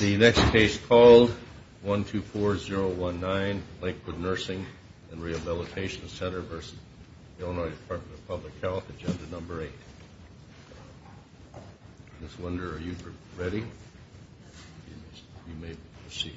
The next case called 124019, Lakewood Nursing and Rehabilitation Center v. Illinois Department of Public Health, Agenda Number 8. Ms. Winder, are you ready? You may proceed.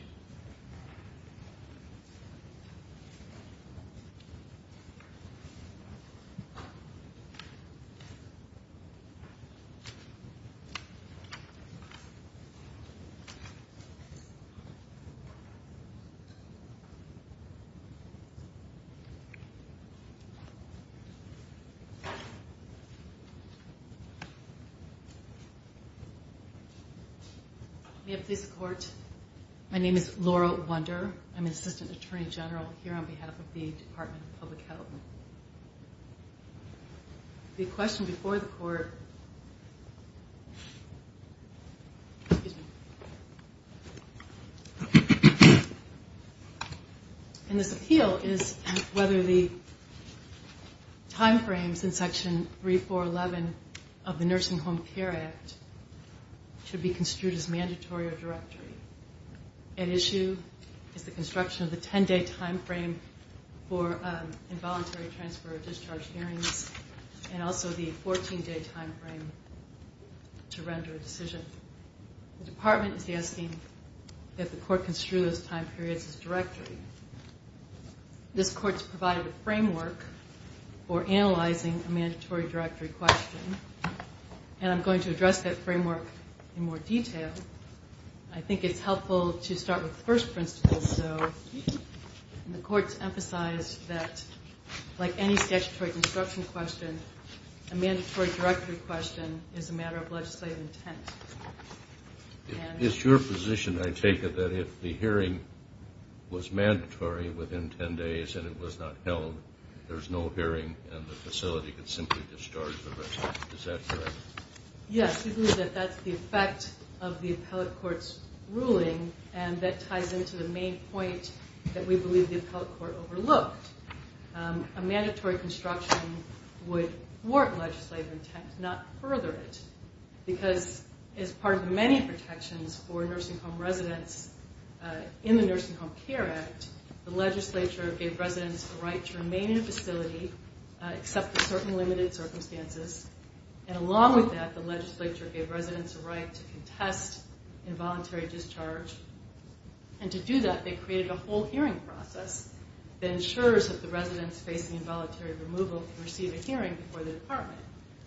May it please the Court, my name is Laura Winder. I'm an Assistant Attorney General here on behalf of the Department of Public Health. The question before the Court, and this appeal is whether the time frames in Section 3411 of the Nursing Home Care Act should be construed as mandatory or directory. At issue is the construction of the 10-day time frame for involuntary transfer or discharge hearings and also the 14-day time frame to render a decision. The Department is asking that the Court construe those time periods as directory. This Court's provided a framework for analyzing a mandatory directory question, and I'm going to address that framework in more detail. I think it's helpful to start with the first principle, though, and the Court's emphasized that, like any statutory construction question, a mandatory directory question is a matter of legislative intent. It's your position, I take it, that if the hearing was mandatory within 10 days and it was not held, there's no hearing and the facility could simply discharge the resident. Is that correct? Yes, we believe that that's the effect of the Appellate Court's ruling, and that ties into the main point that we believe the Appellate Court overlooked. A mandatory construction would warrant legislative intent, not further it, because as part of many protections for nursing home residents in the Nursing Home Care Act, the legislature gave residents the right to remain in a facility except for certain limited circumstances, and along with that, the legislature gave residents the right to contest involuntary discharge. And to do that, they created a whole hearing process that ensures that the residents facing involuntary removal can receive a hearing before the Department,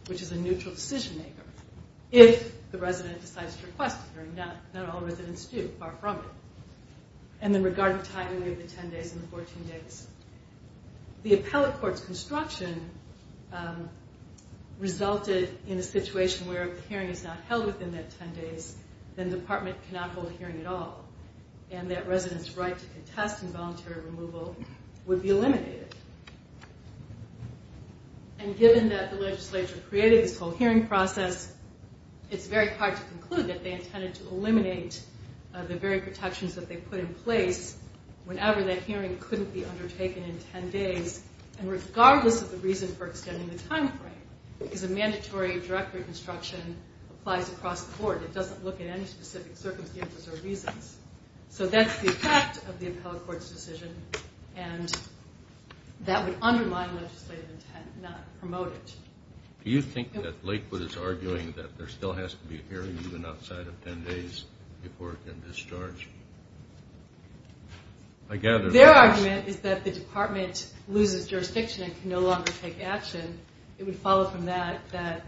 which is a neutral decision-maker, if the resident decides to request a hearing. Not all residents do, far from it. And then regarding tiding away the 10 days and the 14 days, the Appellate Court's construction resulted in a situation where if the hearing is not held within that 10 days, then the Department cannot hold a hearing at all, and that residents' right to contest involuntary removal would be eliminated. And given that the legislature created this whole hearing process, it's very hard to conclude that they intended to eliminate the very protections that they put in place whenever that hearing couldn't be undertaken in 10 days, and regardless of the reason for extending the timeframe, because a mandatory direct reconstruction applies across the board. It doesn't look at any specific circumstances or reasons. So that's the effect of the Appellate Court's decision, and that would undermine legislative intent, not promote it. Do you think that Lakewood is arguing that there still has to be a hearing even outside of 10 days before it can discharge? Their argument is that the Department loses jurisdiction and can no longer take action. It would follow from that that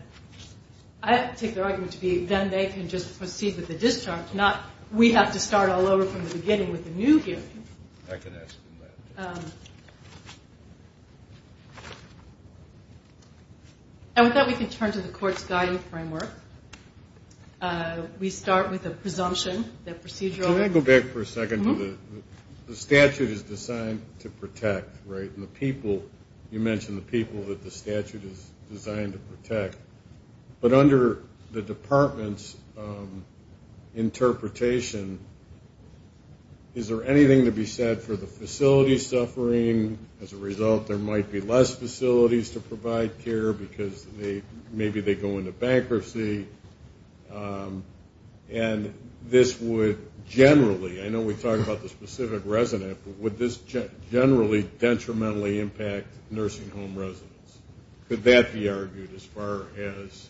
I take their argument to be then they can just proceed with the discharge, not we have to start all over from the beginning with a new hearing. I can ask them that. And with that, we can turn to the Court's guiding framework. We start with a presumption that procedural... Can I go back for a second? The statute is designed to protect, right? And the people, you mentioned the people that the statute is designed to protect. But under the Department's interpretation, is there anything to be said for the facility suffering? As a result, there might be less facilities to provide care because maybe they go into bankruptcy. And this would generally, I know we talked about the specific resident, but would this generally detrimentally impact nursing home residents? Could that be argued as far as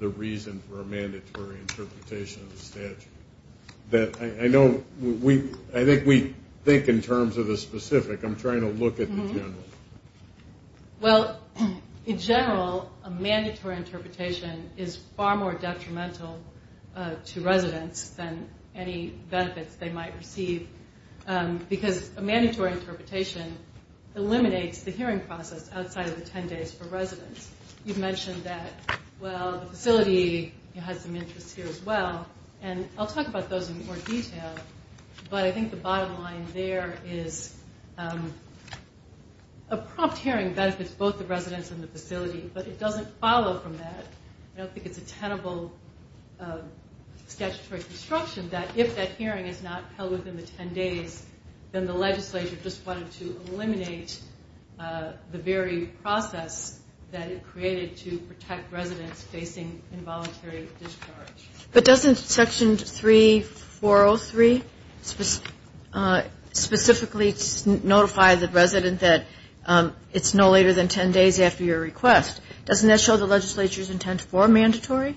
the reason for a mandatory interpretation of the statute? I think we think in terms of the specific. I'm trying to look at the general. Well, in general, a mandatory interpretation is far more detrimental to residents than any benefits they might receive because a mandatory interpretation eliminates the hearing process outside of the 10 days for residents. You mentioned that, well, the facility has some interests here as well. And I'll talk about those in more detail. But I think the bottom line there is a prompt hearing benefits both the residents and the facility, but it doesn't follow from that. I don't think it's a tenable statutory construction that if that hearing is not held within the 10 days, then the legislature just wanted to eliminate the very process that it created to protect residents facing involuntary discharge. But doesn't Section 3403 specifically notify the resident that it's no later than 10 days after your request? Doesn't that show the legislature's intent for mandatory?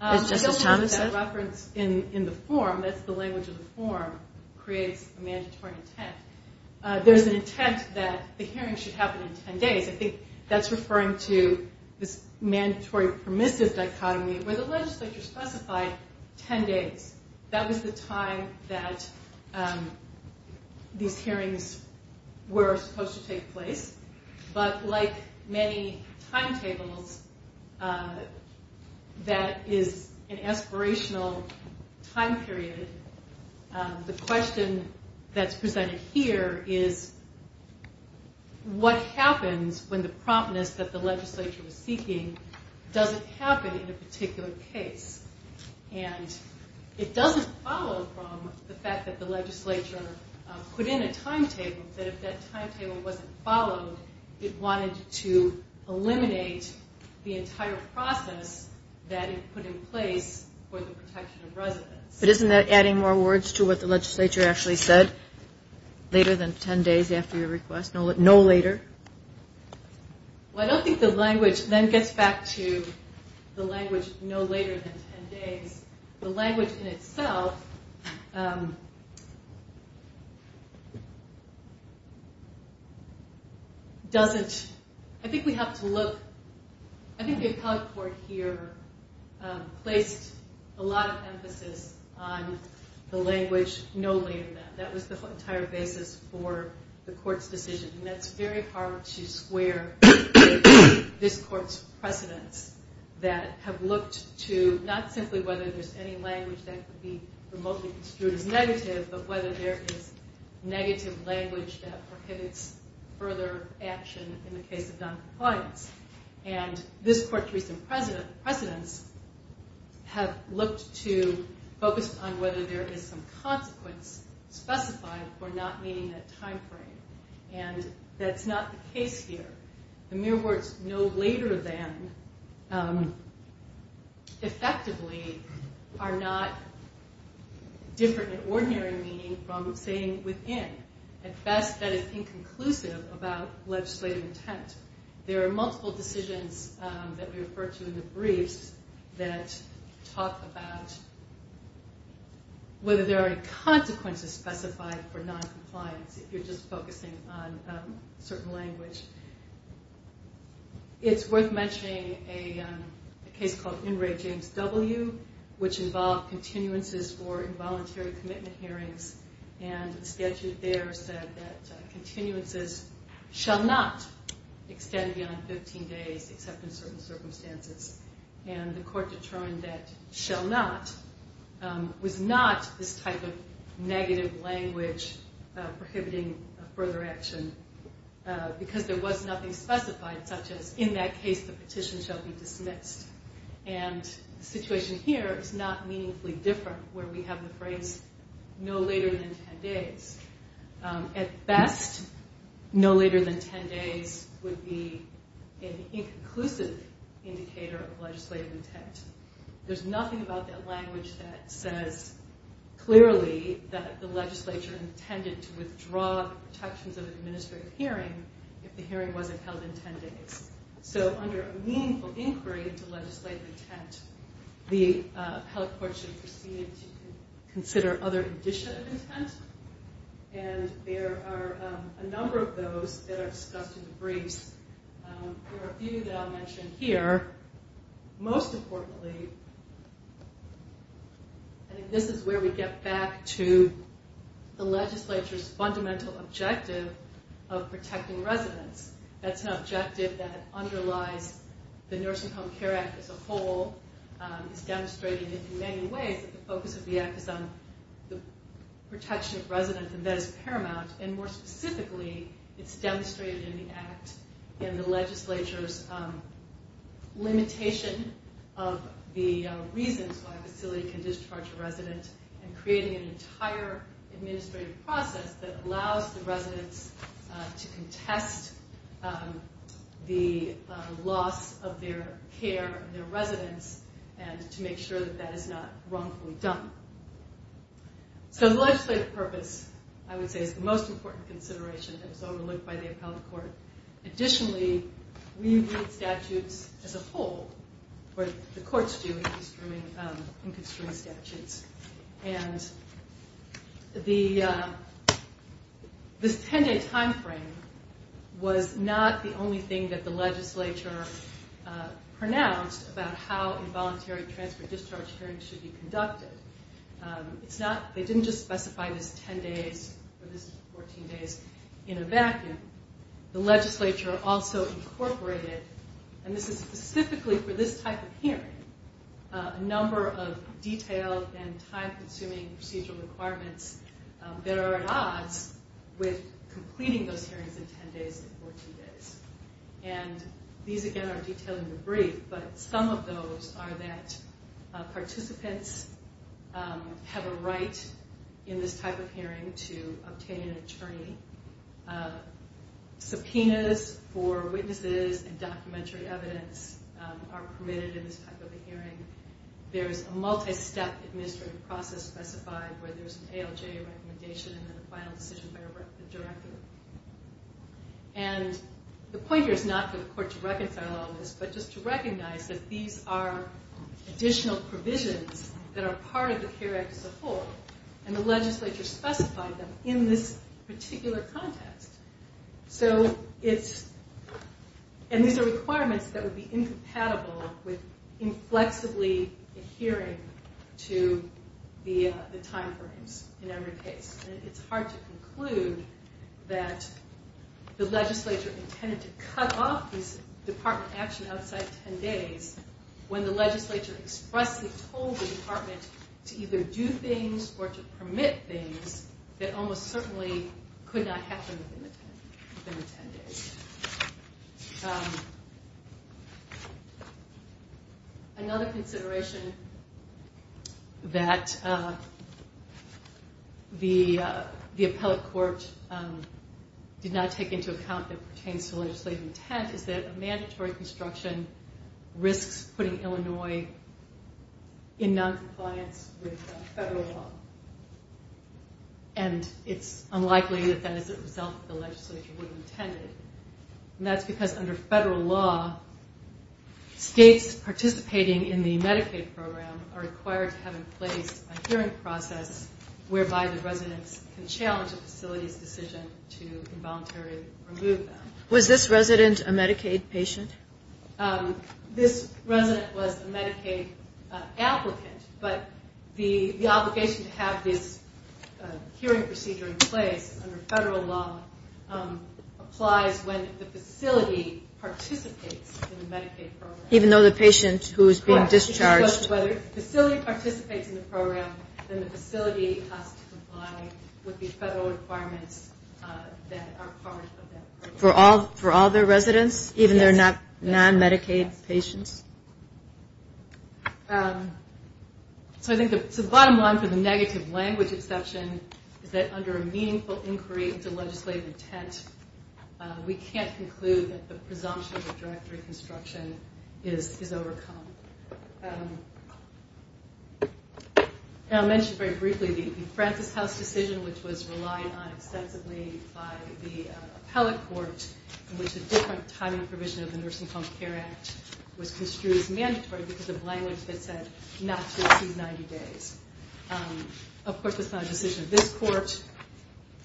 I don't think that reference in the form, that's the language of the form, creates a mandatory intent. There's an intent that the hearing should happen in 10 days. I think that's referring to this mandatory permissive dichotomy where the legislature specified 10 days. That was the time that these hearings were supposed to take place. But like many timetables, that is an aspirational time period. The question that's presented here is what happens when the promptness that the legislature is seeking doesn't happen in a particular case. And it doesn't follow from the fact that the legislature put in a timetable, that if that timetable wasn't followed, it wanted to eliminate the entire process that it put in place for the protection of residents. But isn't that adding more words to what the legislature actually said, later than 10 days after your request, no later? Well, I don't think the language then gets back to the language no later than 10 days. The language in itself doesn't, I think we have to look, I think the appellate court here placed a lot of emphasis on the language no later than. That was the entire basis for the court's decision. And that's very hard to square this court's precedents that have looked to not simply whether there's any language that could be remotely construed as negative, but whether there is negative language that prohibits further action in the case of noncompliance. And this court's recent precedents have looked to focus on whether there is some consequence specified for not meeting that time frame. And that's not the case here. The mere words no later than, effectively, are not different in ordinary meaning from saying within. At best, that is inconclusive about legislative intent. There are multiple decisions that we refer to in the briefs that talk about whether there are any consequences specified for noncompliance, if you're just focusing on a certain language. It's worth mentioning a case called In Re James W., which involved continuances for involuntary commitment hearings. And the statute there said that continuances shall not extend beyond 15 days except in certain circumstances. And the court determined that shall not was not this type of negative language prohibiting further action because there was nothing specified, such as in that case the petition shall be dismissed. And the situation here is not meaningfully different, where we have the phrase no later than 10 days. At best, no later than 10 days would be an inconclusive indicator of legislative intent. There's nothing about that language that says clearly that the legislature intended to withdraw protections of an administrative hearing if the hearing wasn't held in 10 days. So under a meaningful inquiry into legislative intent, the appellate court should proceed to consider other indicia of intent. And there are a number of those that are discussed in the briefs. There are a few that I'll mention here. Most importantly, I think this is where we get back to the legislature's fundamental objective of protecting residents. That's an objective that underlies the Nursing Home Care Act as a whole. It's demonstrated in many ways that the focus of the act is on the protection of residents, and that is paramount. And more specifically, it's demonstrated in the act in the legislature's limitation of the reasons why a facility can discharge a resident and creating an entire administrative process that allows the residents to contest the loss of their care and their residence, and to make sure that that is not wrongfully done. So the legislative purpose, I would say, is the most important consideration that is overlooked by the appellate court. Additionally, we read statutes as a whole, or the courts do, in construing statutes. And this 10-day timeframe was not the only thing that the legislature pronounced about how involuntary transfer-discharge hearings should be conducted. They didn't just specify this 10 days or this 14 days in a vacuum. The legislature also incorporated, and this is specifically for this type of hearing, a number of detailed and time-consuming procedural requirements that are at odds with completing those hearings in 10 days and 14 days. And these, again, are detailed in the brief, but some of those are that participants have a right in this type of hearing to obtain an attorney. Subpoenas for witnesses and documentary evidence are permitted in this type of a hearing. There's a multi-step administrative process specified where there's an ALJ recommendation and then a final decision by the director. And the point here is not for the court to reconcile all this, but just to recognize that these are additional provisions that are part of the CARES Act as a whole. And the legislature specified them in this particular context. So it's, and these are requirements that would be incompatible with inflexibly adhering to the timeframes in every case. And it's hard to conclude that the legislature intended to cut off this department action outside 10 days when the legislature expressly told the department to either do things or to permit things that almost certainly could not happen within the 10 days. And another consideration that the appellate court did not take into account that pertains to legislative intent is that a mandatory construction risks putting Illinois in noncompliance with federal law. And it's unlikely that that is a result that the legislature would have intended. And that's because under federal law, states participating in the Medicaid program are required to have in place a hearing process whereby the residents can challenge a facility's decision to involuntarily remove them. Was this resident a Medicaid patient? This resident was a Medicaid applicant, but the obligation to have this hearing procedure in place under federal law applies when the facility participates in the Medicaid program. Even though the patient who is being discharged. If the facility participates in the program, then the facility has to comply with the federal requirements that are part of that program. For all their residents? Even their non-Medicaid patients? So I think the bottom line for the negative language exception is that under a meaningful inquiry into legislative intent, we can't conclude that the presumption of direct reconstruction is overcome. I'll mention very briefly the Francis House decision which was relied on extensively by the appellate court in which a different timing provision of the Nursing Home Care Act was construed as mandatory because of language that said not to exceed 90 days. Of course, that's not a decision of this court.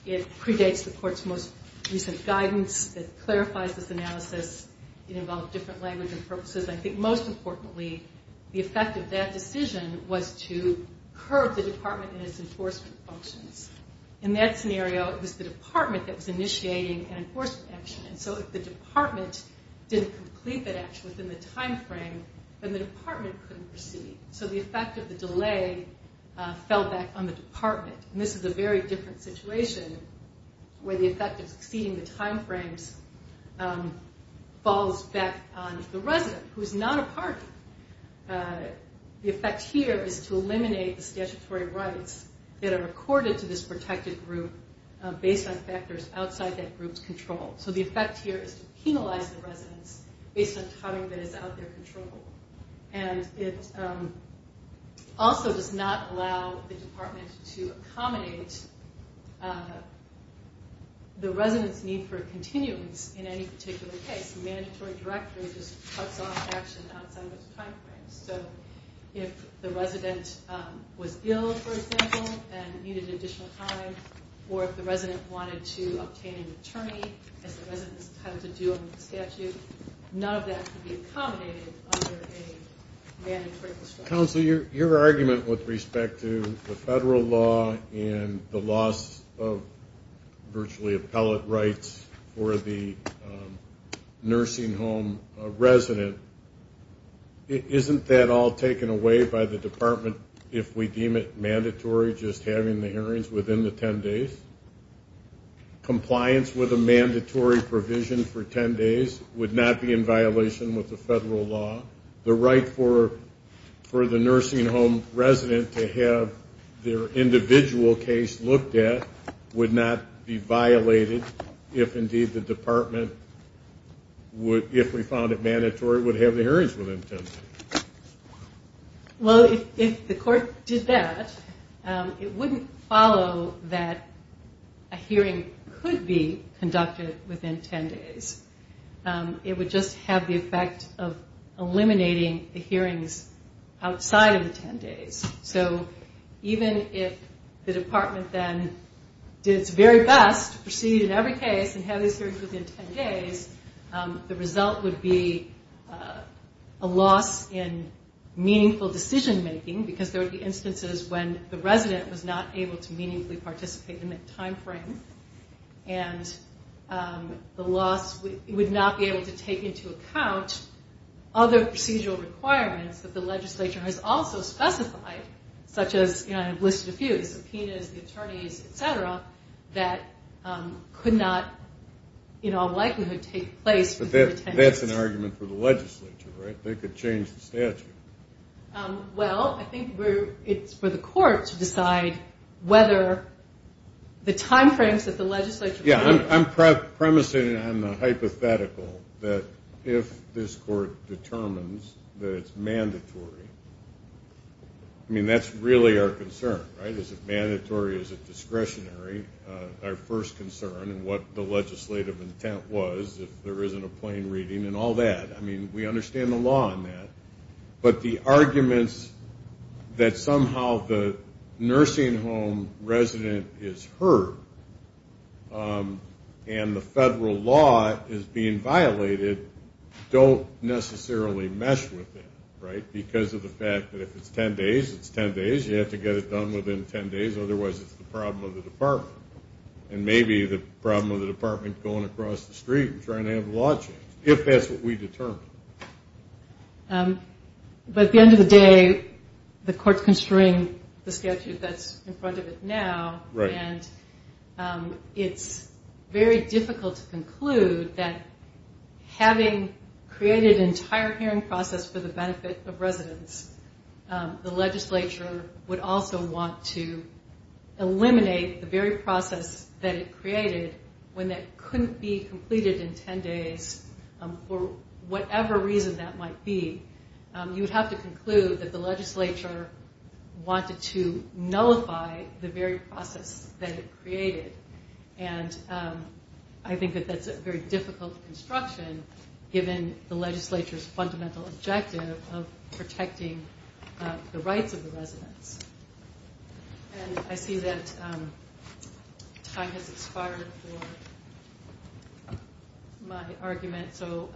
It predates the court's most recent guidance that clarifies this analysis. It involved different language and purposes. I think most importantly, the effect of that decision was to curb the department and its enforcement functions. In that scenario, it was the department that was initiating an enforcement action. So if the department didn't complete that action within the time frame, then the department couldn't proceed. So the effect of the delay fell back on the department. This is a very different situation where the effect of exceeding the time frames falls back on the resident who is not a party. The effect here is to eliminate the statutory rights that are accorded to this protected group based on factors outside that group's control. So the effect here is to penalize the residents based on timing that is out of their control. It also does not allow the department to accommodate the resident's need for continuance in any particular case. The mandatory directory just cuts off action outside of its time frame. So if the resident was ill, for example, and needed additional time, or if the resident wanted to obtain an attorney, as the resident is entitled to do under the statute, none of that can be accommodated under a mandatory district. Counselor, your argument with respect to the federal law and the loss of virtually appellate rights for the nursing home resident, isn't that all taken away by the department if we deem it mandatory just having the hearings within the 10 days? Compliance with a mandatory provision for 10 days would not be in violation with the federal law. The right for the nursing home resident to have their individual case looked at would not be violated if indeed the department, if we found it mandatory, would have the hearings within 10 days. Well, if the court did that, it wouldn't follow that a hearing could be conducted within 10 days. It would just have the effect of eliminating the hearings outside of the 10 days. So even if the department then did its very best to proceed in every case and have these hearings within 10 days, the result would be a loss in meaningful decision making because there would be instances when the resident was not able to meaningfully participate in that time frame. And the loss would not be able to take into account other procedural requirements that the legislature has also specified, such as I've listed a few, subpoenas, the attorneys, et cetera, that could not in all likelihood take place within 10 days. But that's an argument for the legislature, right? They could change the statute. Well, I think it's for the court to decide whether the time frames that the legislature... Yeah, I'm premising on the hypothetical that if this court determines that it's mandatory, I mean, that's really our concern, right? Is it mandatory? Is it discretionary? Our first concern and what the legislative intent was if there isn't a plain reading and all that. I mean, we understand the law on that. But the arguments that somehow the nursing home resident is hurt and the federal law is being violated don't necessarily mesh with that, right? Because of the fact that if it's 10 days, it's 10 days. You have to get it done within 10 days. And maybe the problem of the department going across the street and trying to have a law change, if that's what we determine. But at the end of the day, the court's constrained the statute that's in front of it now. And it's very difficult to conclude that having created an entire hearing process for the benefit of residents, the legislature would also want to eliminate the very process that it created when that couldn't be completed in 10 days for whatever reason that might be. You would have to conclude that the legislature wanted to nullify the very process that it created. And I think that that's a very difficult construction given the legislature's fundamental objective of protecting the rights of the residents. And I see that time has expired for my argument. So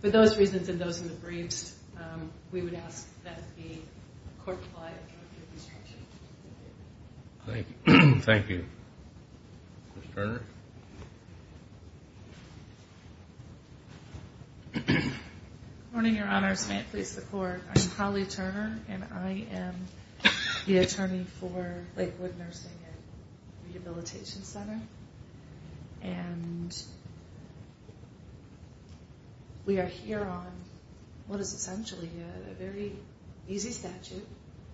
for those reasons and those in the briefs, we would ask that the court comply with your construction. Thank you. Ms. Turner? Good morning, your honors. May it please the court. I'm Holly Turner, and I am the attorney for Lakewood Nursing and Rehabilitation Center. And we are here on what is essentially a very easy statute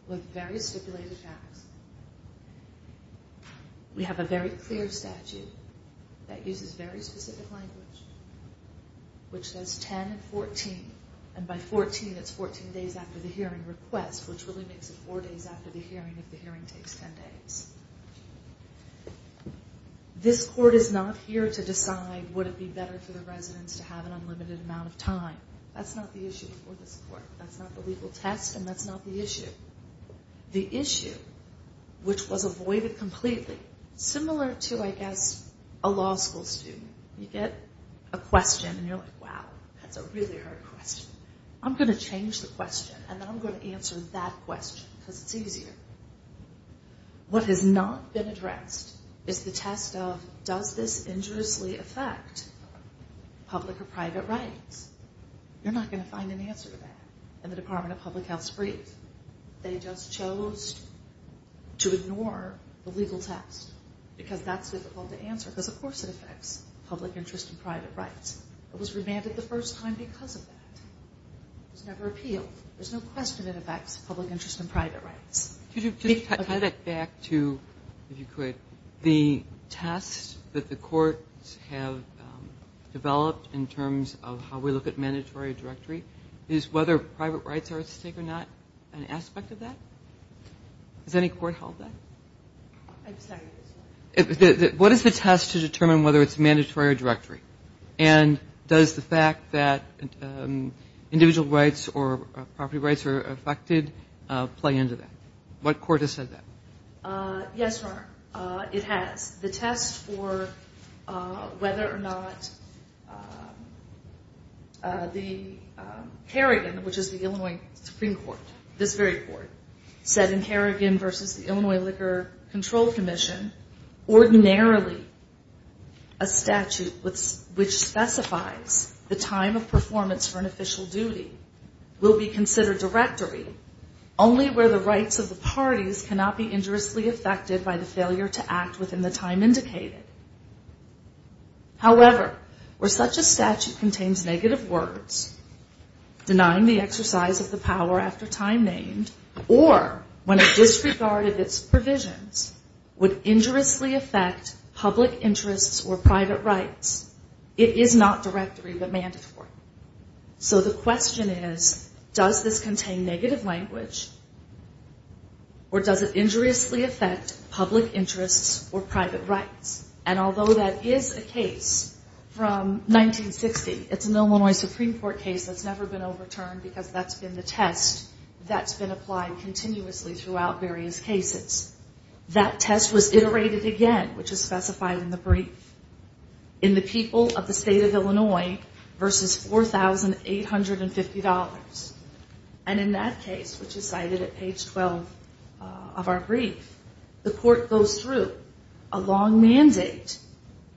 with very stipulated facts. We have a very clear statute that uses very specific language, which says 10 and 14. And by 14, it's 14 days after the hearing request, which really makes it 4 days after the hearing if the hearing takes 10 days. This court is not here to decide would it be better for the residents to have an unlimited amount of time. That's not the issue for this court. That's not the legal test, and that's not the issue. The issue, which was avoided completely, similar to I guess a law school student. You get a question, and you're like, wow, that's a really hard question. I'm going to change the question, and then I'm going to answer that question because it's easier. What has not been addressed is the test of does this injuriously affect public or private rights? You're not going to find an answer to that in the Department of Public Health's brief. They just chose to ignore the legal test because that's difficult to answer because, of course, it affects public interest and private rights. It was remanded the first time because of that. It was never appealed. There's no question it affects public interest and private rights. Just tie that back to, if you could, the test that the courts have developed in terms of how we look at mandatory directory is whether private rights are at stake or not an aspect of that. Has any court held that? I'm sorry. What is the test to determine whether it's mandatory or directory, and does the fact that individual rights or property rights are affected play into that? What court has said that? Yes, Your Honor, it has. The test for whether or not the Kerrigan, which is the Illinois Supreme Court, this very court, said in Kerrigan v. Illinois Liquor Control Commission, ordinarily a statute which specifies the time of performance for an official duty will be considered directory only where the rights of the parties cannot be injuriously affected by the failure to act within the time indicated. However, where such a statute contains negative words, denying the exercise of the power after time named, or when it disregarded its provisions, would injuriously affect public interests or private rights, it is not directory but mandatory. So the question is, does this contain negative language, or does it injuriously affect public interests or private rights? And although that is a case from 1960, it's an Illinois Supreme Court case that's never been overturned because that's been the test that's been applied continuously throughout various cases. That test was iterated again, which is specified in the brief, in the people of the state of Illinois versus $4,850. And in that case, which is cited at page 12 of our brief, the court goes through a long mandate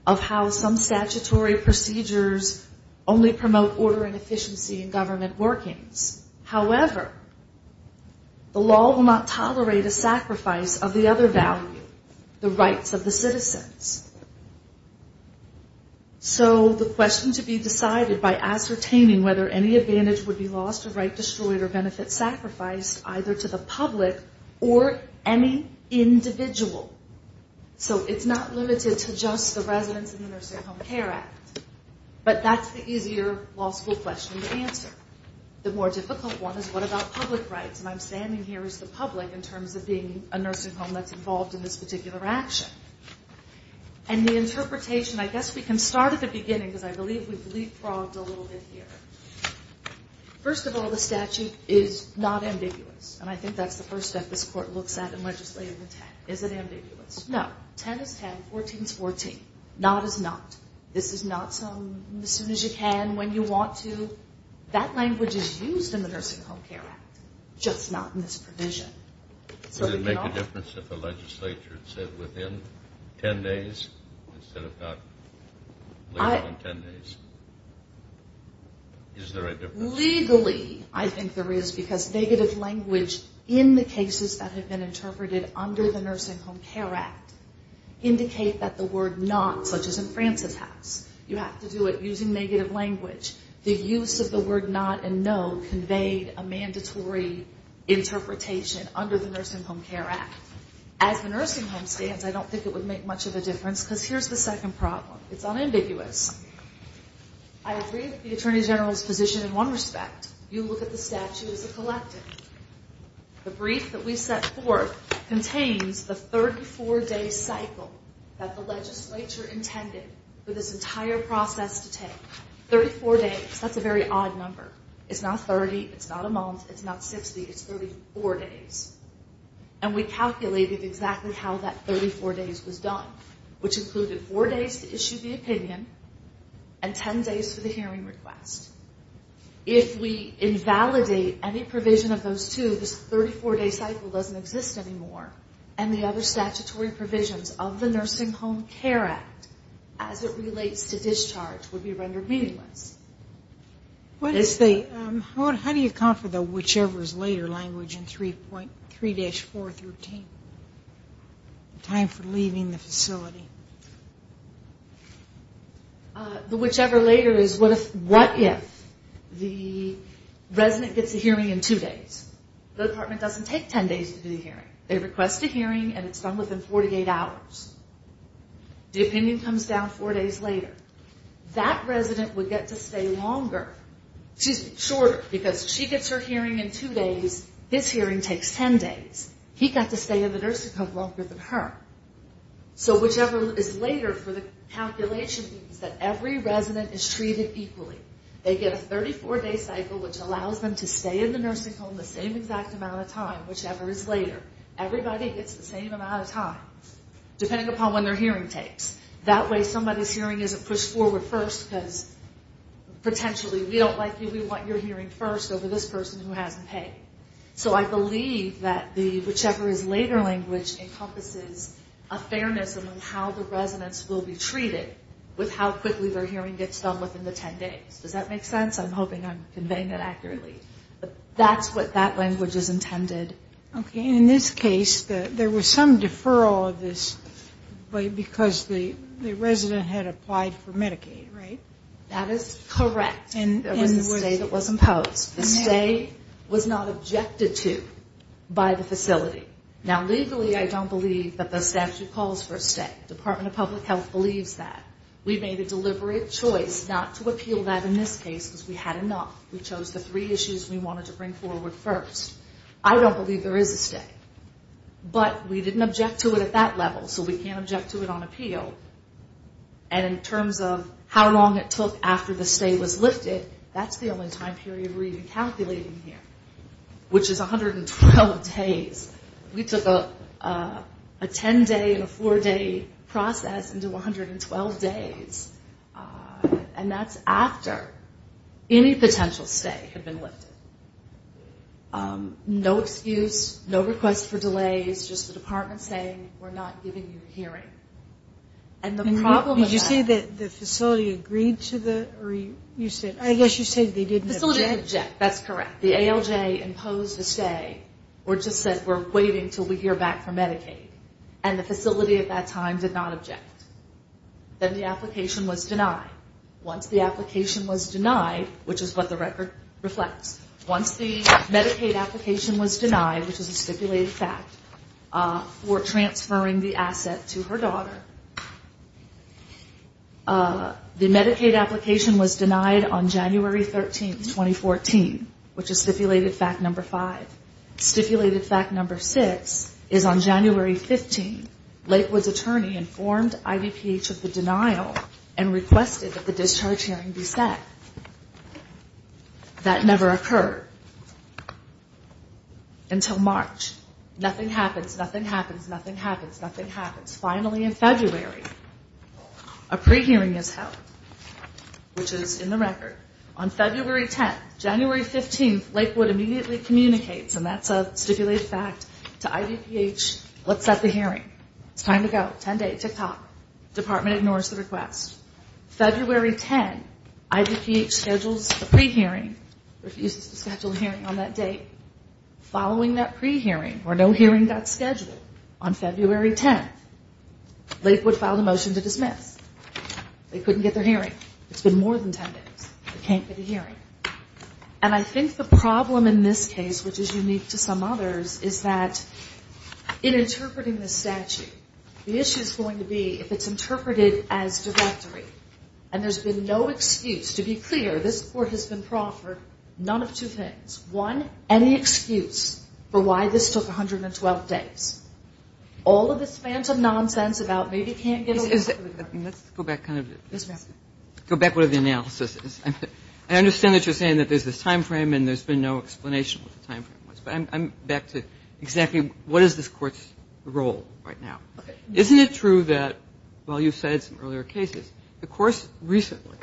of how some statutory procedures only promote order and efficiency in government workings. However, the law will not tolerate a sacrifice of the other value, the rights of the citizens. So the question to be decided by ascertaining whether any advantage would be lost or right destroyed or benefit sacrificed, either to the public or any individual. So it's not limited to just the residents in the Nursing Home Care Act. But that's the easier law school question to answer. The more difficult one is what about public rights? And I'm standing here as the public in terms of being a nursing home that's involved in this particular action. And the interpretation, I guess we can start at the beginning because I believe we've leapfrogged a little bit here. First of all, the statute is not ambiguous. And I think that's the first step this court looks at in legislating the 10. Is it ambiguous? No. 10 is 10. 14 is 14. Not is not. This is not some as soon as you can, when you want to. That language is used in the Nursing Home Care Act, just not in this provision. Does it make a difference if the legislature said within 10 days instead of about later than 10 days? Is there a difference? Legally, I think there is because negative language in the cases that have been interpreted under the Nursing Home Care Act indicate that the word not, such as in Francis' house, you have to do it using negative language. The use of the word not and no conveyed a mandatory interpretation under the Nursing Home Care Act. As the nursing home stands, I don't think it would make much of a difference because here's the second problem. It's unambiguous. I agree with the Attorney General's position in one respect. You look at the statute as a collective. The brief that we set forth contains the 34-day cycle that the legislature intended for this entire process to take. 34 days, that's a very odd number. It's not 30, it's not a month, it's not 60, it's 34 days. And we calculated exactly how that 34 days was done, which included four days to issue the opinion and 10 days for the hearing request. If we invalidate any provision of those two, this 34-day cycle doesn't exist anymore and the other statutory provisions of the Nursing Home Care Act, as it relates to discharge, would be rendered meaningless. How do you account for the whichever is later language in 3-4 through 10? The time for leaving the facility. The whichever later is what if the resident gets a hearing in two days? The department doesn't take 10 days to do the hearing. They request a hearing and it's done within 48 hours. The opinion comes down four days later. That resident would get to stay longer. She's shorter because she gets her hearing in two days, his hearing takes 10 days. He got to stay in the nursing home longer than her. So whichever is later for the calculation means that every resident is treated equally. They get a 34-day cycle, which allows them to stay in the nursing home the same exact amount of time, whichever is later. Everybody gets the same amount of time, depending upon when their hearing takes. That way somebody's hearing isn't pushed forward first because potentially we don't like you. We want your hearing first over this person who hasn't paid. So I believe that the whichever is later language encompasses a fairness of how the residents will be treated with how quickly their hearing gets done within the 10 days. Does that make sense? I'm hoping I'm conveying that accurately. That's what that language is intended. Okay. In this case, there was some deferral of this because the resident had applied for Medicaid, right? That is correct. There was a stay that was imposed. The stay was not objected to by the facility. Now, legally, I don't believe that the statute calls for a stay. The Department of Public Health believes that. We made a deliberate choice not to appeal that in this case because we had enough. We chose the three issues we wanted to bring forward first. I don't believe there is a stay. But we didn't object to it at that level, so we can't object to it on appeal. And in terms of how long it took after the stay was lifted, that's the only time period we're even calculating here, which is 112 days. We took a 10-day and a 4-day process into 112 days. And that's after any potential stay had been lifted. No excuse, no request for delays, just the department saying, we're not giving you a hearing. Did you say that the facility agreed to the? I guess you said they didn't object. That's correct. The ALJ imposed a stay or just said we're waiting until we hear back from Medicaid. And the facility at that time did not object. Then the application was denied. Once the application was denied, which is what the record reflects, once the Medicaid application was denied, which is a stipulated fact, for transferring the asset to her daughter, the Medicaid application was denied on January 13, 2014, which is stipulated fact number five. Stipulated fact number six is on January 15, Lakewood's attorney informed IVPH of the denial and requested that the discharge hearing be set. That never occurred until March. Nothing happens, nothing happens, nothing happens, nothing happens. Finally, in February, a pre-hearing is held, which is in the record. On February 10, January 15, Lakewood immediately communicates, and that's a stipulated fact to IVPH, let's set the hearing. It's time to go, 10 days, tick-tock. Department ignores the request. February 10, IVPH schedules a pre-hearing, refuses to schedule a hearing on that date. Following that pre-hearing, where no hearing got scheduled, on February 10, Lakewood filed a motion to dismiss. They couldn't get their hearing. It's been more than 10 days. They can't get a hearing. And I think the problem in this case, which is unique to some others, is that in interpreting this statute, the issue is going to be if it's interpreted as directory. And there's been no excuse. To be clear, this Court has been proffered none of two things. One, any excuse for why this took 112 days. All of this phantom nonsense about maybe can't get a hearing. Let's go back kind of to the analysis. I understand that you're saying that there's this time frame, and there's been no explanation of what the time frame was. But I'm back to exactly what is this Court's role right now. Okay. Isn't it true that, while you've cited some earlier cases, the courts recently,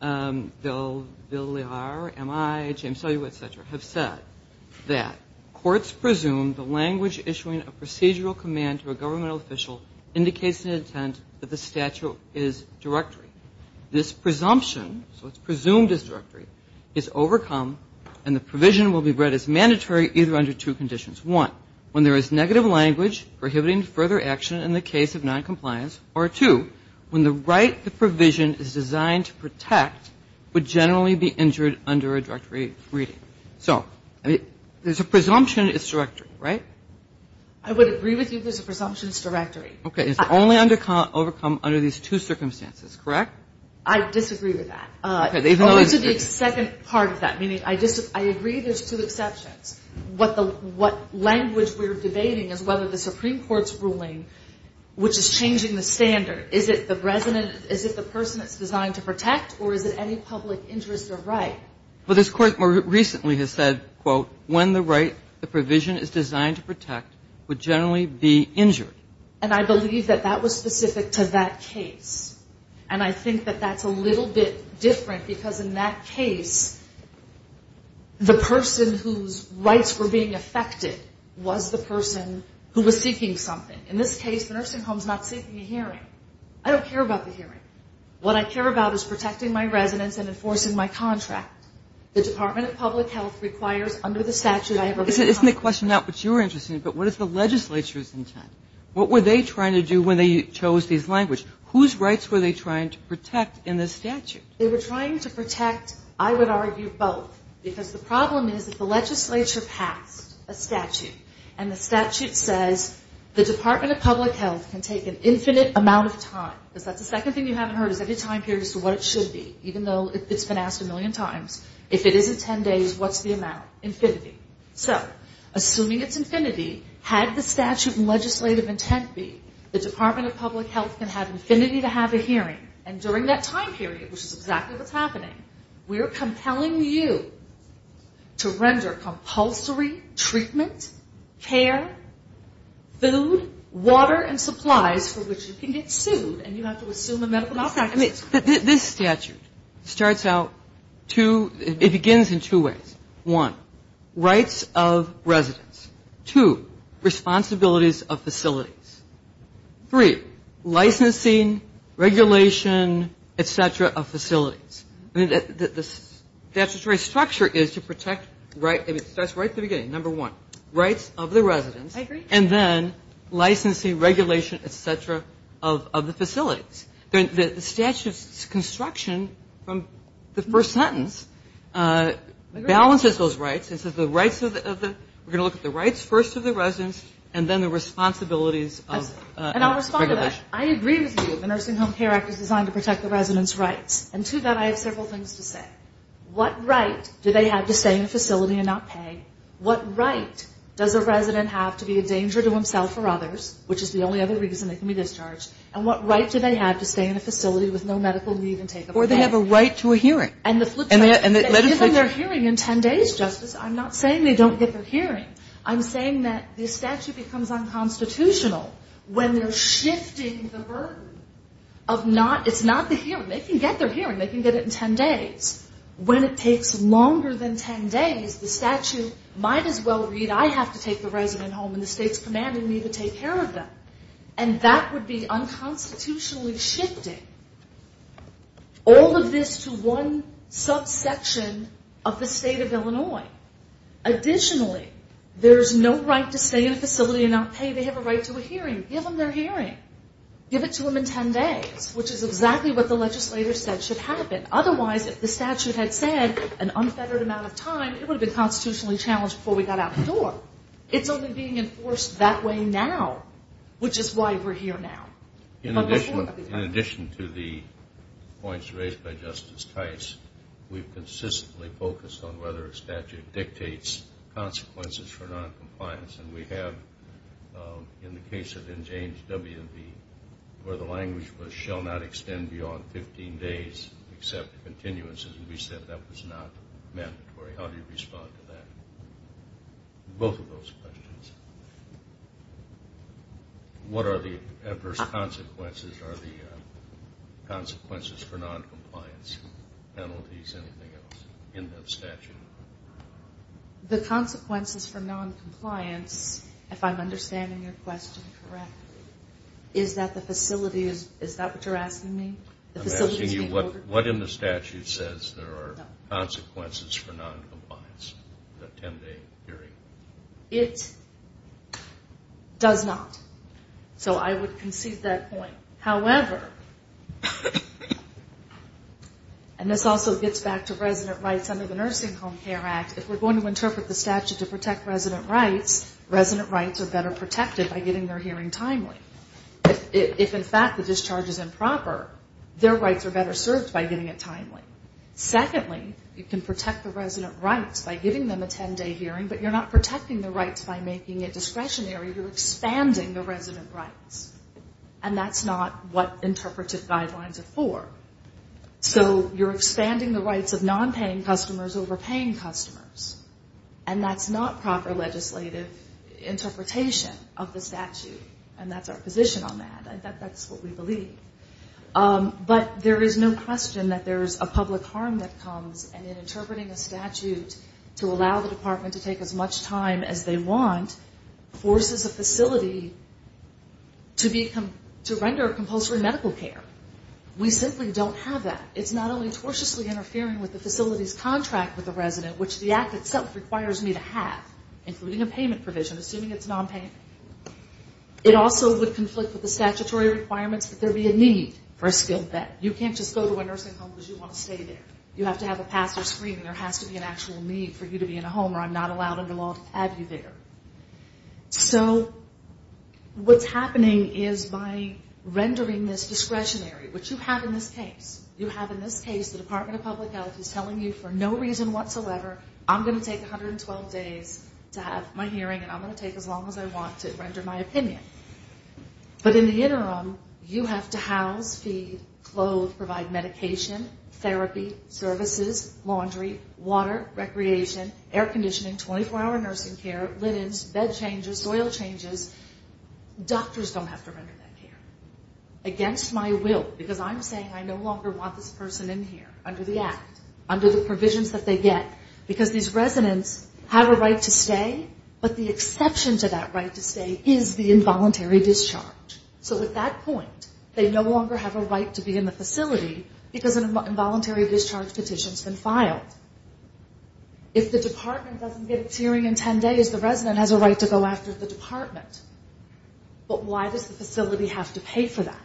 Bill Laird, M.I., James Sullywood, et cetera, have said that courts presume the language issuing a procedural command to a governmental official indicates an intent that the statute is directory. This presumption, so it's presumed as directory, is overcome, and the provision will be read as mandatory either under two conditions. One, when there is negative language prohibiting further action in the case of noncompliance. Or two, when the right, the provision is designed to protect, would generally be injured under a directory reading. So there's a presumption it's directory, right? I would agree with you there's a presumption it's directory. Okay. It's only overcome under these two circumstances, correct? I disagree with that. Okay. This is the second part of that, meaning I agree there's two exceptions. What language we're debating is whether the Supreme Court's ruling, which is changing the standard, is it the person that's designed to protect or is it any public interest or right? Well, this Court more recently has said, quote, when the right, the provision is designed to protect, would generally be injured. And I believe that that was specific to that case. And I think that that's a little bit different because in that case, the person whose rights were being affected was the person who was seeking something. In this case, the nursing home's not seeking a hearing. I don't care about the hearing. What I care about is protecting my residents and enforcing my contract. The Department of Public Health requires under the statute I have already commented on. Isn't the question not what you're interested in, but what is the legislature's intent? What were they trying to do when they chose these languages? Whose rights were they trying to protect in this statute? They were trying to protect, I would argue, both. Because the problem is that the legislature passed a statute, and the statute says the Department of Public Health can take an infinite amount of time. Because that's the second thing you haven't heard is any time period as to what it should be, even though it's been asked a million times. If it isn't ten days, what's the amount? Infinity. So assuming it's infinity, had the statute and legislative intent be, the Department of Public Health can have infinity to have a hearing. And during that time period, which is exactly what's happening, we're compelling you to render compulsory treatment, care, food, water, and supplies for which you can get sued, and you have to assume a medical malpractice. This statute starts out two ñ it begins in two ways. One, rights of residents. Two, responsibilities of facilities. Three, licensing, regulation, et cetera, of facilities. I mean, the statutory structure is to protect right ñ I mean, it starts right at the beginning. Number one, rights of the residents. I agree. And then licensing, regulation, et cetera, of the facilities. The statute's construction from the first sentence balances those rights. It says the rights of the ñ we're going to look at the rights first of the residents, and then the responsibilities of the facilities. And I'll respond to that. I agree with you that the Nursing Home Care Act is designed to protect the residents' rights. And to that, I have several things to say. What right do they have to stay in a facility and not pay? What right does a resident have to be a danger to himself or others, which is the only other reason they can be discharged? And what right do they have to stay in a facility with no medical need and take up a pay? Or they have a right to a hearing. And the flip side ñ And let us ñ They can give them their hearing in ten days, Justice. I'm not saying they don't get their hearing. I'm saying that the statute becomes unconstitutional when they're shifting the burden of not ñ It's not the hearing. They can get their hearing. They can get it in ten days. When it takes longer than ten days, the statute might as well read, I have to take the resident home and the state's commanding me to take care of them. And that would be unconstitutionally shifting all of this to one subsection of the state of Illinois. Additionally, there's no right to stay in a facility and not pay. They have a right to a hearing. Give them their hearing. Give it to them in ten days, which is exactly what the legislator said should happen. Otherwise, if the statute had said an unfettered amount of time, it would have been constitutionally challenged before we got out the door. It's only being enforced that way now, which is why we're here now. In addition to the points raised by Justice Tice, we've consistently focused on whether a statute dictates consequences for noncompliance. And we have, in the case of N. James W.V., where the language was, shall not extend beyond 15 days except continuances. And we said that was not mandatory. How do you respond to that? Both of those questions. What are the adverse consequences? Are the consequences for noncompliance penalties anything else in the statute? The consequences for noncompliance, if I'm understanding your question correctly, is that the facility is, is that what you're asking me? I'm asking you what in the statute says there are consequences for noncompliance, a ten-day hearing. It does not. So I would concede that point. However, and this also gets back to resident rights under the Nursing Home Care Act, if we're going to interpret the statute to protect resident rights, resident rights are better protected by getting their hearing timely. If, in fact, the discharge is improper, their rights are better served by getting it timely. Secondly, you can protect the resident rights by giving them a ten-day hearing, but you're not protecting the rights by making it discretionary. You're expanding the resident rights. And that's not what interpretive guidelines are for. So you're expanding the rights of nonpaying customers over paying customers, and that's not proper legislative interpretation of the statute, and that's our position on that. In fact, that's what we believe. But there is no question that there is a public harm that comes, and in interpreting a statute to allow the department to take as much time as they want forces a facility to render compulsory medical care. We simply don't have that. It's not only tortiously interfering with the facility's contract with the resident, which the act itself requires me to have, including a payment provision, assuming it's nonpayment. It also would conflict with the statutory requirements that there be a need for a skilled vet. You can't just go to a nursing home because you want to stay there. You have to have a pass or screen, and there has to be an actual need for you to be in a home where I'm not allowed under law to have you there. So what's happening is by rendering this discretionary, which you have in this case, you have in this case the Department of Public Health is telling you for no reason whatsoever, I'm going to take 112 days to have my hearing, and I'm going to take as long as I want to render my opinion. But in the interim, you have to house, feed, clothe, provide medication, therapy, services, laundry, water, recreation, air conditioning, 24-hour nursing care, linens, bed changes, soil changes. Doctors don't have to render that care. Against my will, because I'm saying I no longer want this person in here under the act, under the provisions that they get, because these residents have a right to stay, but the exception to that right to stay is the involuntary discharge. So at that point, they no longer have a right to be in the facility because an involuntary discharge petition has been filed. If the department doesn't get its hearing in ten days, the resident has a right to go after the department. But why does the facility have to pay for that?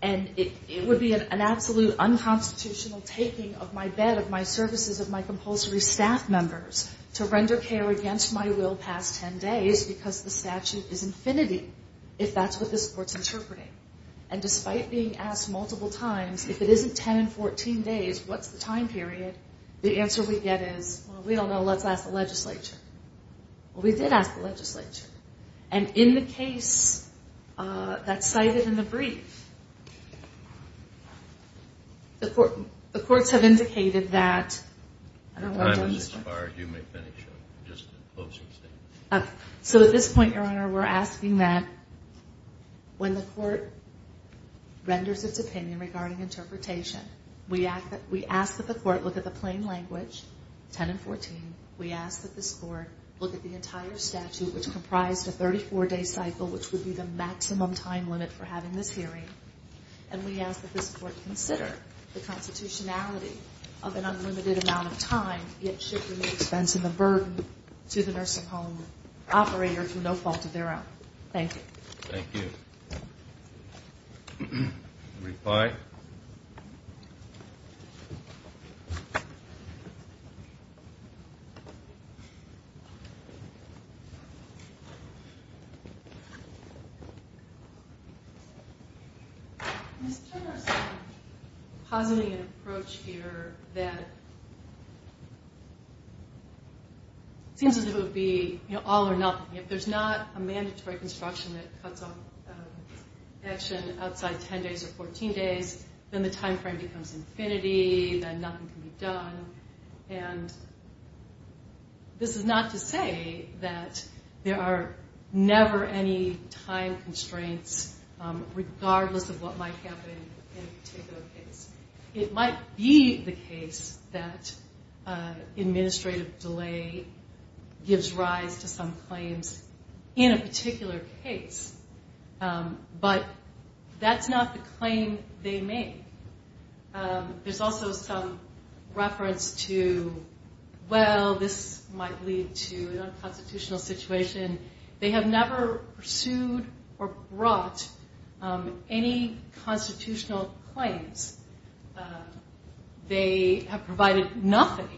And it would be an absolute unconstitutional taking of my bed, of my services, of my compulsory staff members to render care against my will past ten days because the statute is infinity, if that's what this court's interpreting. And despite being asked multiple times, if it isn't ten and fourteen days, what's the time period, the answer we get is, well, we don't know, let's ask the legislature. Well, we did ask the legislature. And in the case that's cited in the brief, the courts have indicated that... So at this point, Your Honor, we're asking that when the court renders its opinion regarding interpretation, we ask that the court look at the plain language, ten and fourteen, we ask that this court look at the entire statute, which comprised a 34-day cycle, which would be the maximum time limit for having this hearing, and we ask that this court consider the constitutionality of an unlimited amount of time yet shifting the expense and the burden to the nurse-at-home operator through no fault of their own. Thank you. Thank you. Reply. Ms. Turner is positing an approach here that seems as if it would be all or nothing. If there's not a mandatory construction that cuts off action outside ten days or fourteen days, then the time frame becomes infinity, then nothing can be done. And this is not to say that there are never any time constraints, regardless of what might happen in a particular case. It might be the case that administrative delay gives rise to some claims in a particular case, but that's not the claim they make. There's also some reference to, well, this might lead to an unconstitutional situation. They have never pursued or brought any constitutional claims. They have provided nothing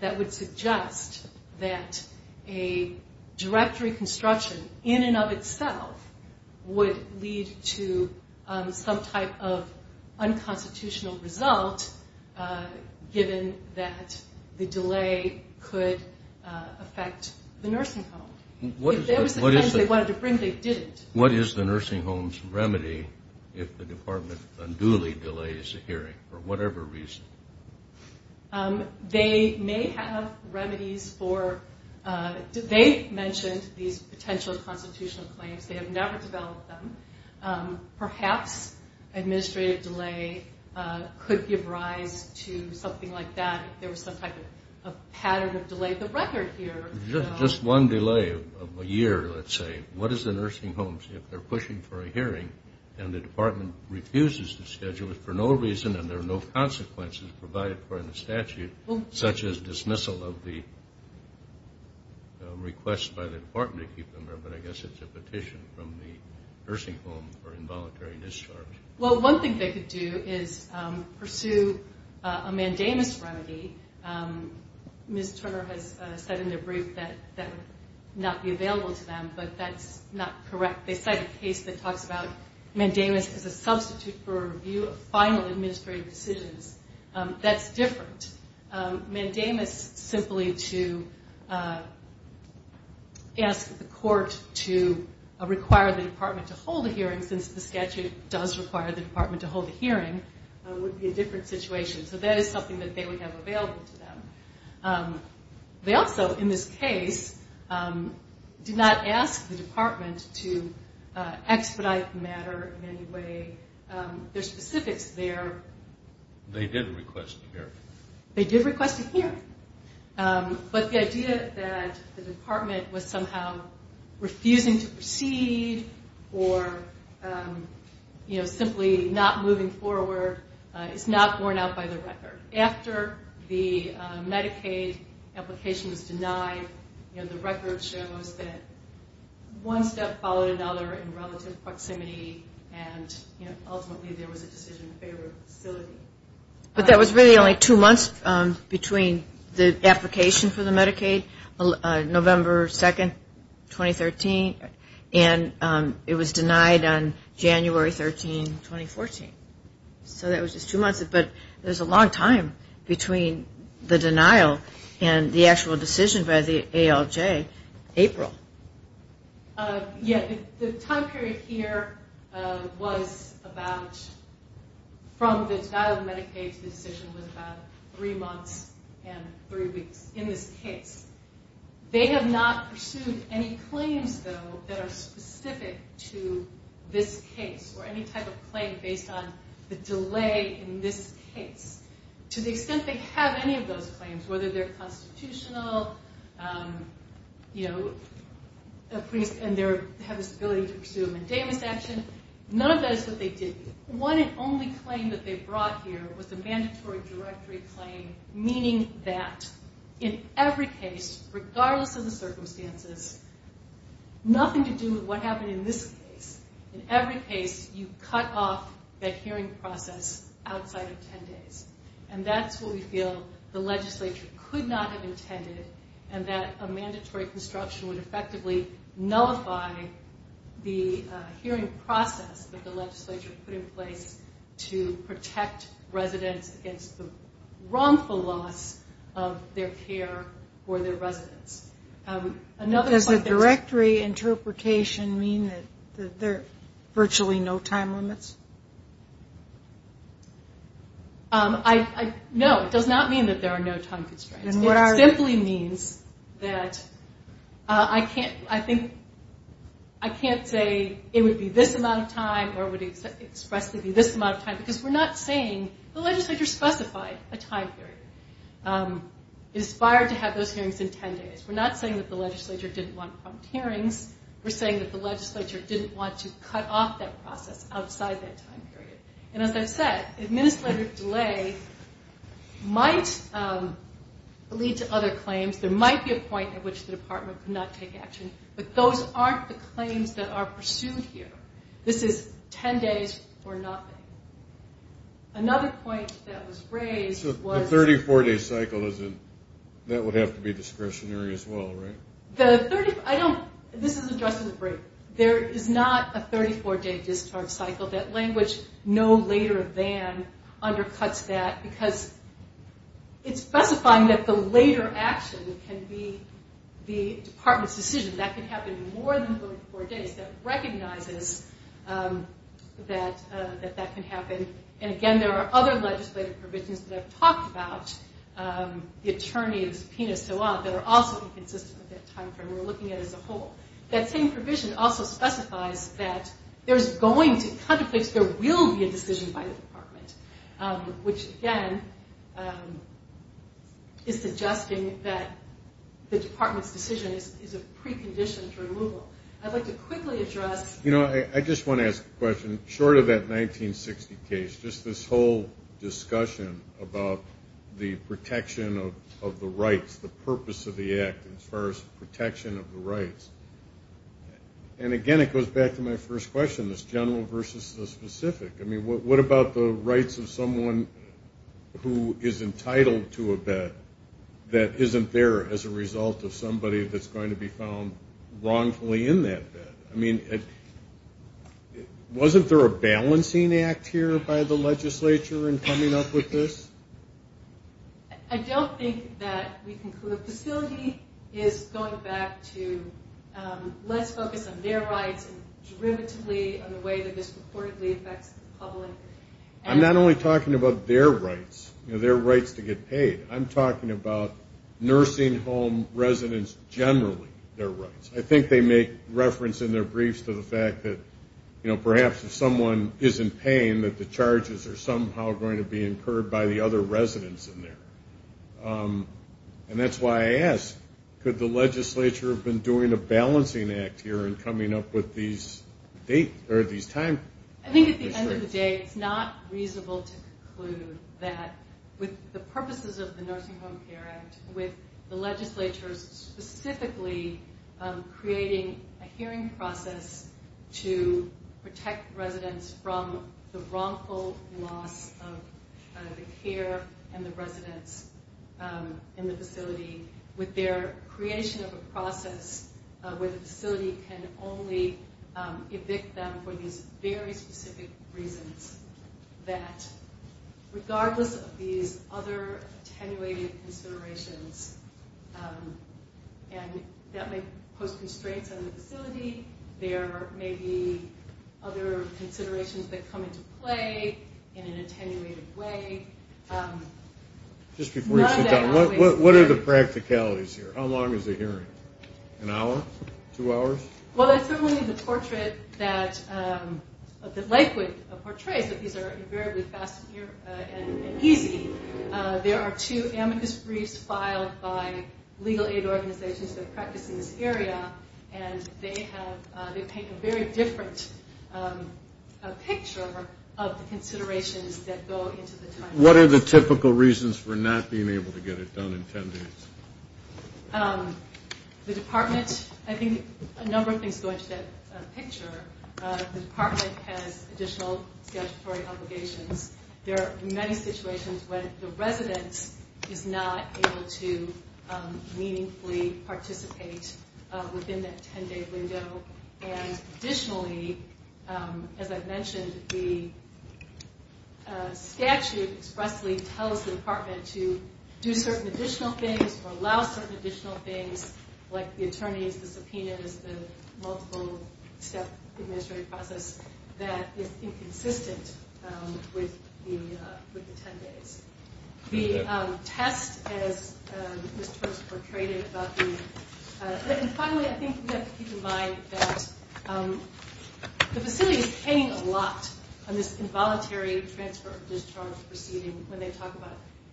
that would suggest that a directory construction in and of itself would lead to some type of unconstitutional result, given that the delay could affect the nursing home. If there was a claim they wanted to bring, they didn't. What is the nursing home's remedy if the department unduly delays a hearing for whatever reason? They may have remedies for – they mentioned these potential constitutional claims. They have never developed them. Perhaps administrative delay could give rise to something like that if there was some type of pattern of delay. The record here – Just one delay of a year, let's say. What is the nursing home's – if they're pushing for a hearing and the department refuses to schedule it for no reason and there are no consequences provided for in the statute, such as dismissal of the request by the department to keep them there, but I guess it's a petition from the nursing home for involuntary discharge. Well, one thing they could do is pursue a mandamus remedy. Ms. Turner has said in her brief that that would not be available to them, but that's not correct. They cite a case that talks about mandamus as a substitute for a review of final administrative decisions. That's different. Mandamus simply to ask the court to require the department to hold a hearing, since the statute does require the department to hold a hearing, would be a different situation. So that is something that they would have available to them. They also, in this case, did not ask the department to expedite the matter in any way. Their specifics there – They did request a hearing. They did request a hearing. But the idea that the department was somehow refusing to proceed or simply not moving forward is not borne out by the record. After the Medicaid application was denied, the record shows that one step followed another in relative proximity, and ultimately there was a decision in favor of facility. But that was really only two months between the application for the Medicaid, November 2, 2013, and it was denied on January 13, 2014. So that was just two months, but there's a long time between the denial and the actual decision by the ALJ, April. Yeah. The time period here was about, from the denial of Medicaid, the decision was about three months and three weeks in this case. They have not pursued any claims, though, that are specific to this case or any type of claim based on the delay in this case. To the extent they have any of those claims, whether they're constitutional and they have this ability to pursue a mendamus action, none of that is what they did. One and only claim that they brought here was a mandatory directory claim, meaning that in every case, regardless of the circumstances, nothing to do with what happened in this case. In every case, you cut off that hearing process outside of ten days, and that's what we feel the legislature could not have intended and that a mandatory construction would effectively nullify the hearing process that the legislature put in place to protect residents against the wrongful loss of their care for their residents. Does the directory interpretation mean that there are virtually no time limits? No, it does not mean that there are no time constraints. It simply means that I can't say it would be this amount of time or it would expressly be this amount of time because we're not saying the legislature specified a time period. It is fired to have those hearings in ten days. We're not saying that the legislature didn't want prompt hearings. We're saying that the legislature didn't want to cut off that process outside that time period. And as I said, administrative delay might lead to other claims. There might be a point at which the department could not take action, but those aren't the claims that are pursued here. This is ten days for nothing. Another point that was raised was... The 34-day cycle, that would have to be discretionary as well, right? This is addressed in the brief. There is not a 34-day discharge cycle. That language, no later than, undercuts that because it's specifying that the later action can be the department's decision. That could happen in more than 34 days. That recognizes that that can happen. And again, there are other legislative provisions that I've talked about, the attorney, the subpoena, so on, that are also inconsistent with that time frame we're looking at as a whole. That same provision also specifies that there's going to come a place where there will be a decision by the department, which again is suggesting that the department's decision is a precondition for removal. I'd like to quickly address... You know, I just want to ask a question. Short of that 1960 case, just this whole discussion about the protection of the rights, the purpose of the Act as far as protection of the rights. And again, it goes back to my first question, this general versus the specific. I mean, what about the rights of someone who is entitled to a bed that isn't there as a result of somebody that's going to be found wrongfully in that bed? I mean, wasn't there a balancing act here by the legislature in coming up with this? I don't think that we can conclude. The facility is going back to let's focus on their rights and derivatively on the way that this reportedly affects the public. I'm not only talking about their rights, their rights to get paid. I'm talking about nursing home residents generally, their rights. I think they make reference in their briefs to the fact that perhaps if someone isn't paying that the charges are somehow going to be incurred by the other residents in there. And that's why I ask, could the legislature have been doing a balancing act here in coming up with these time constraints? I think at the end of the day it's not reasonable to conclude that with the purposes of the Nursing Home Care Act, with the legislature specifically creating a hearing process to protect residents from the wrongful loss of the care and the residents in the facility, with their creation of a process where the facility can only evict them for these very specific reasons, that regardless of these other attenuated considerations, and that may pose constraints on the facility, there may be other considerations that come into play in an attenuated way. Just before you sit down, what are the practicalities here? How long is the hearing? An hour? Two hours? Well, that's certainly the portrait that Lakewood portrays, that these are invariably fast and easy. There are two amicus briefs filed by legal aid organizations that practice in this area, and they paint a very different picture of the considerations that go into the time frame. What are the typical reasons for not being able to get it done in 10 days? The department, I think a number of things go into that picture. The department has additional statutory obligations. There are many situations when the resident is not able to meaningfully participate within that 10-day window, and additionally, as I've mentioned, the statute expressly tells the department to do certain additional things, or allow certain additional things, like the attorneys, the subpoenas, the multiple-step administrative process, that is inconsistent with the 10 days. The test, as Mr. Brooks portrayed it, about the... And finally, I think we have to keep in mind that the facility is paying a lot on this involuntary transfer of discharge proceeding when they talk about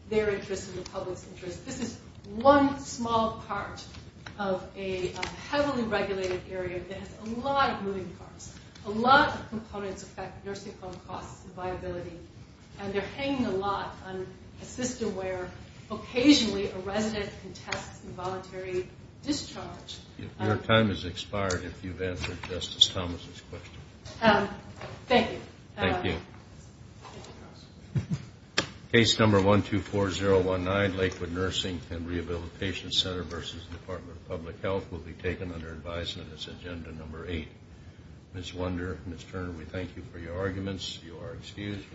their interests and the public's interests. This is one small part of a heavily regulated area that has a lot of moving parts. A lot of components affect nursing home costs and viability, and they're hanging a lot on a system where occasionally a resident can test involuntary discharge. Your time has expired if you've answered Justice Thomas's question. Thank you. Thank you. Case number 124019, Lakewood Nursing and Rehabilitation Center v. Department of Public Health, will be taken under advisement as agenda number eight. Ms. Wunder, Ms. Turner, we thank you for your arguments. You are excused.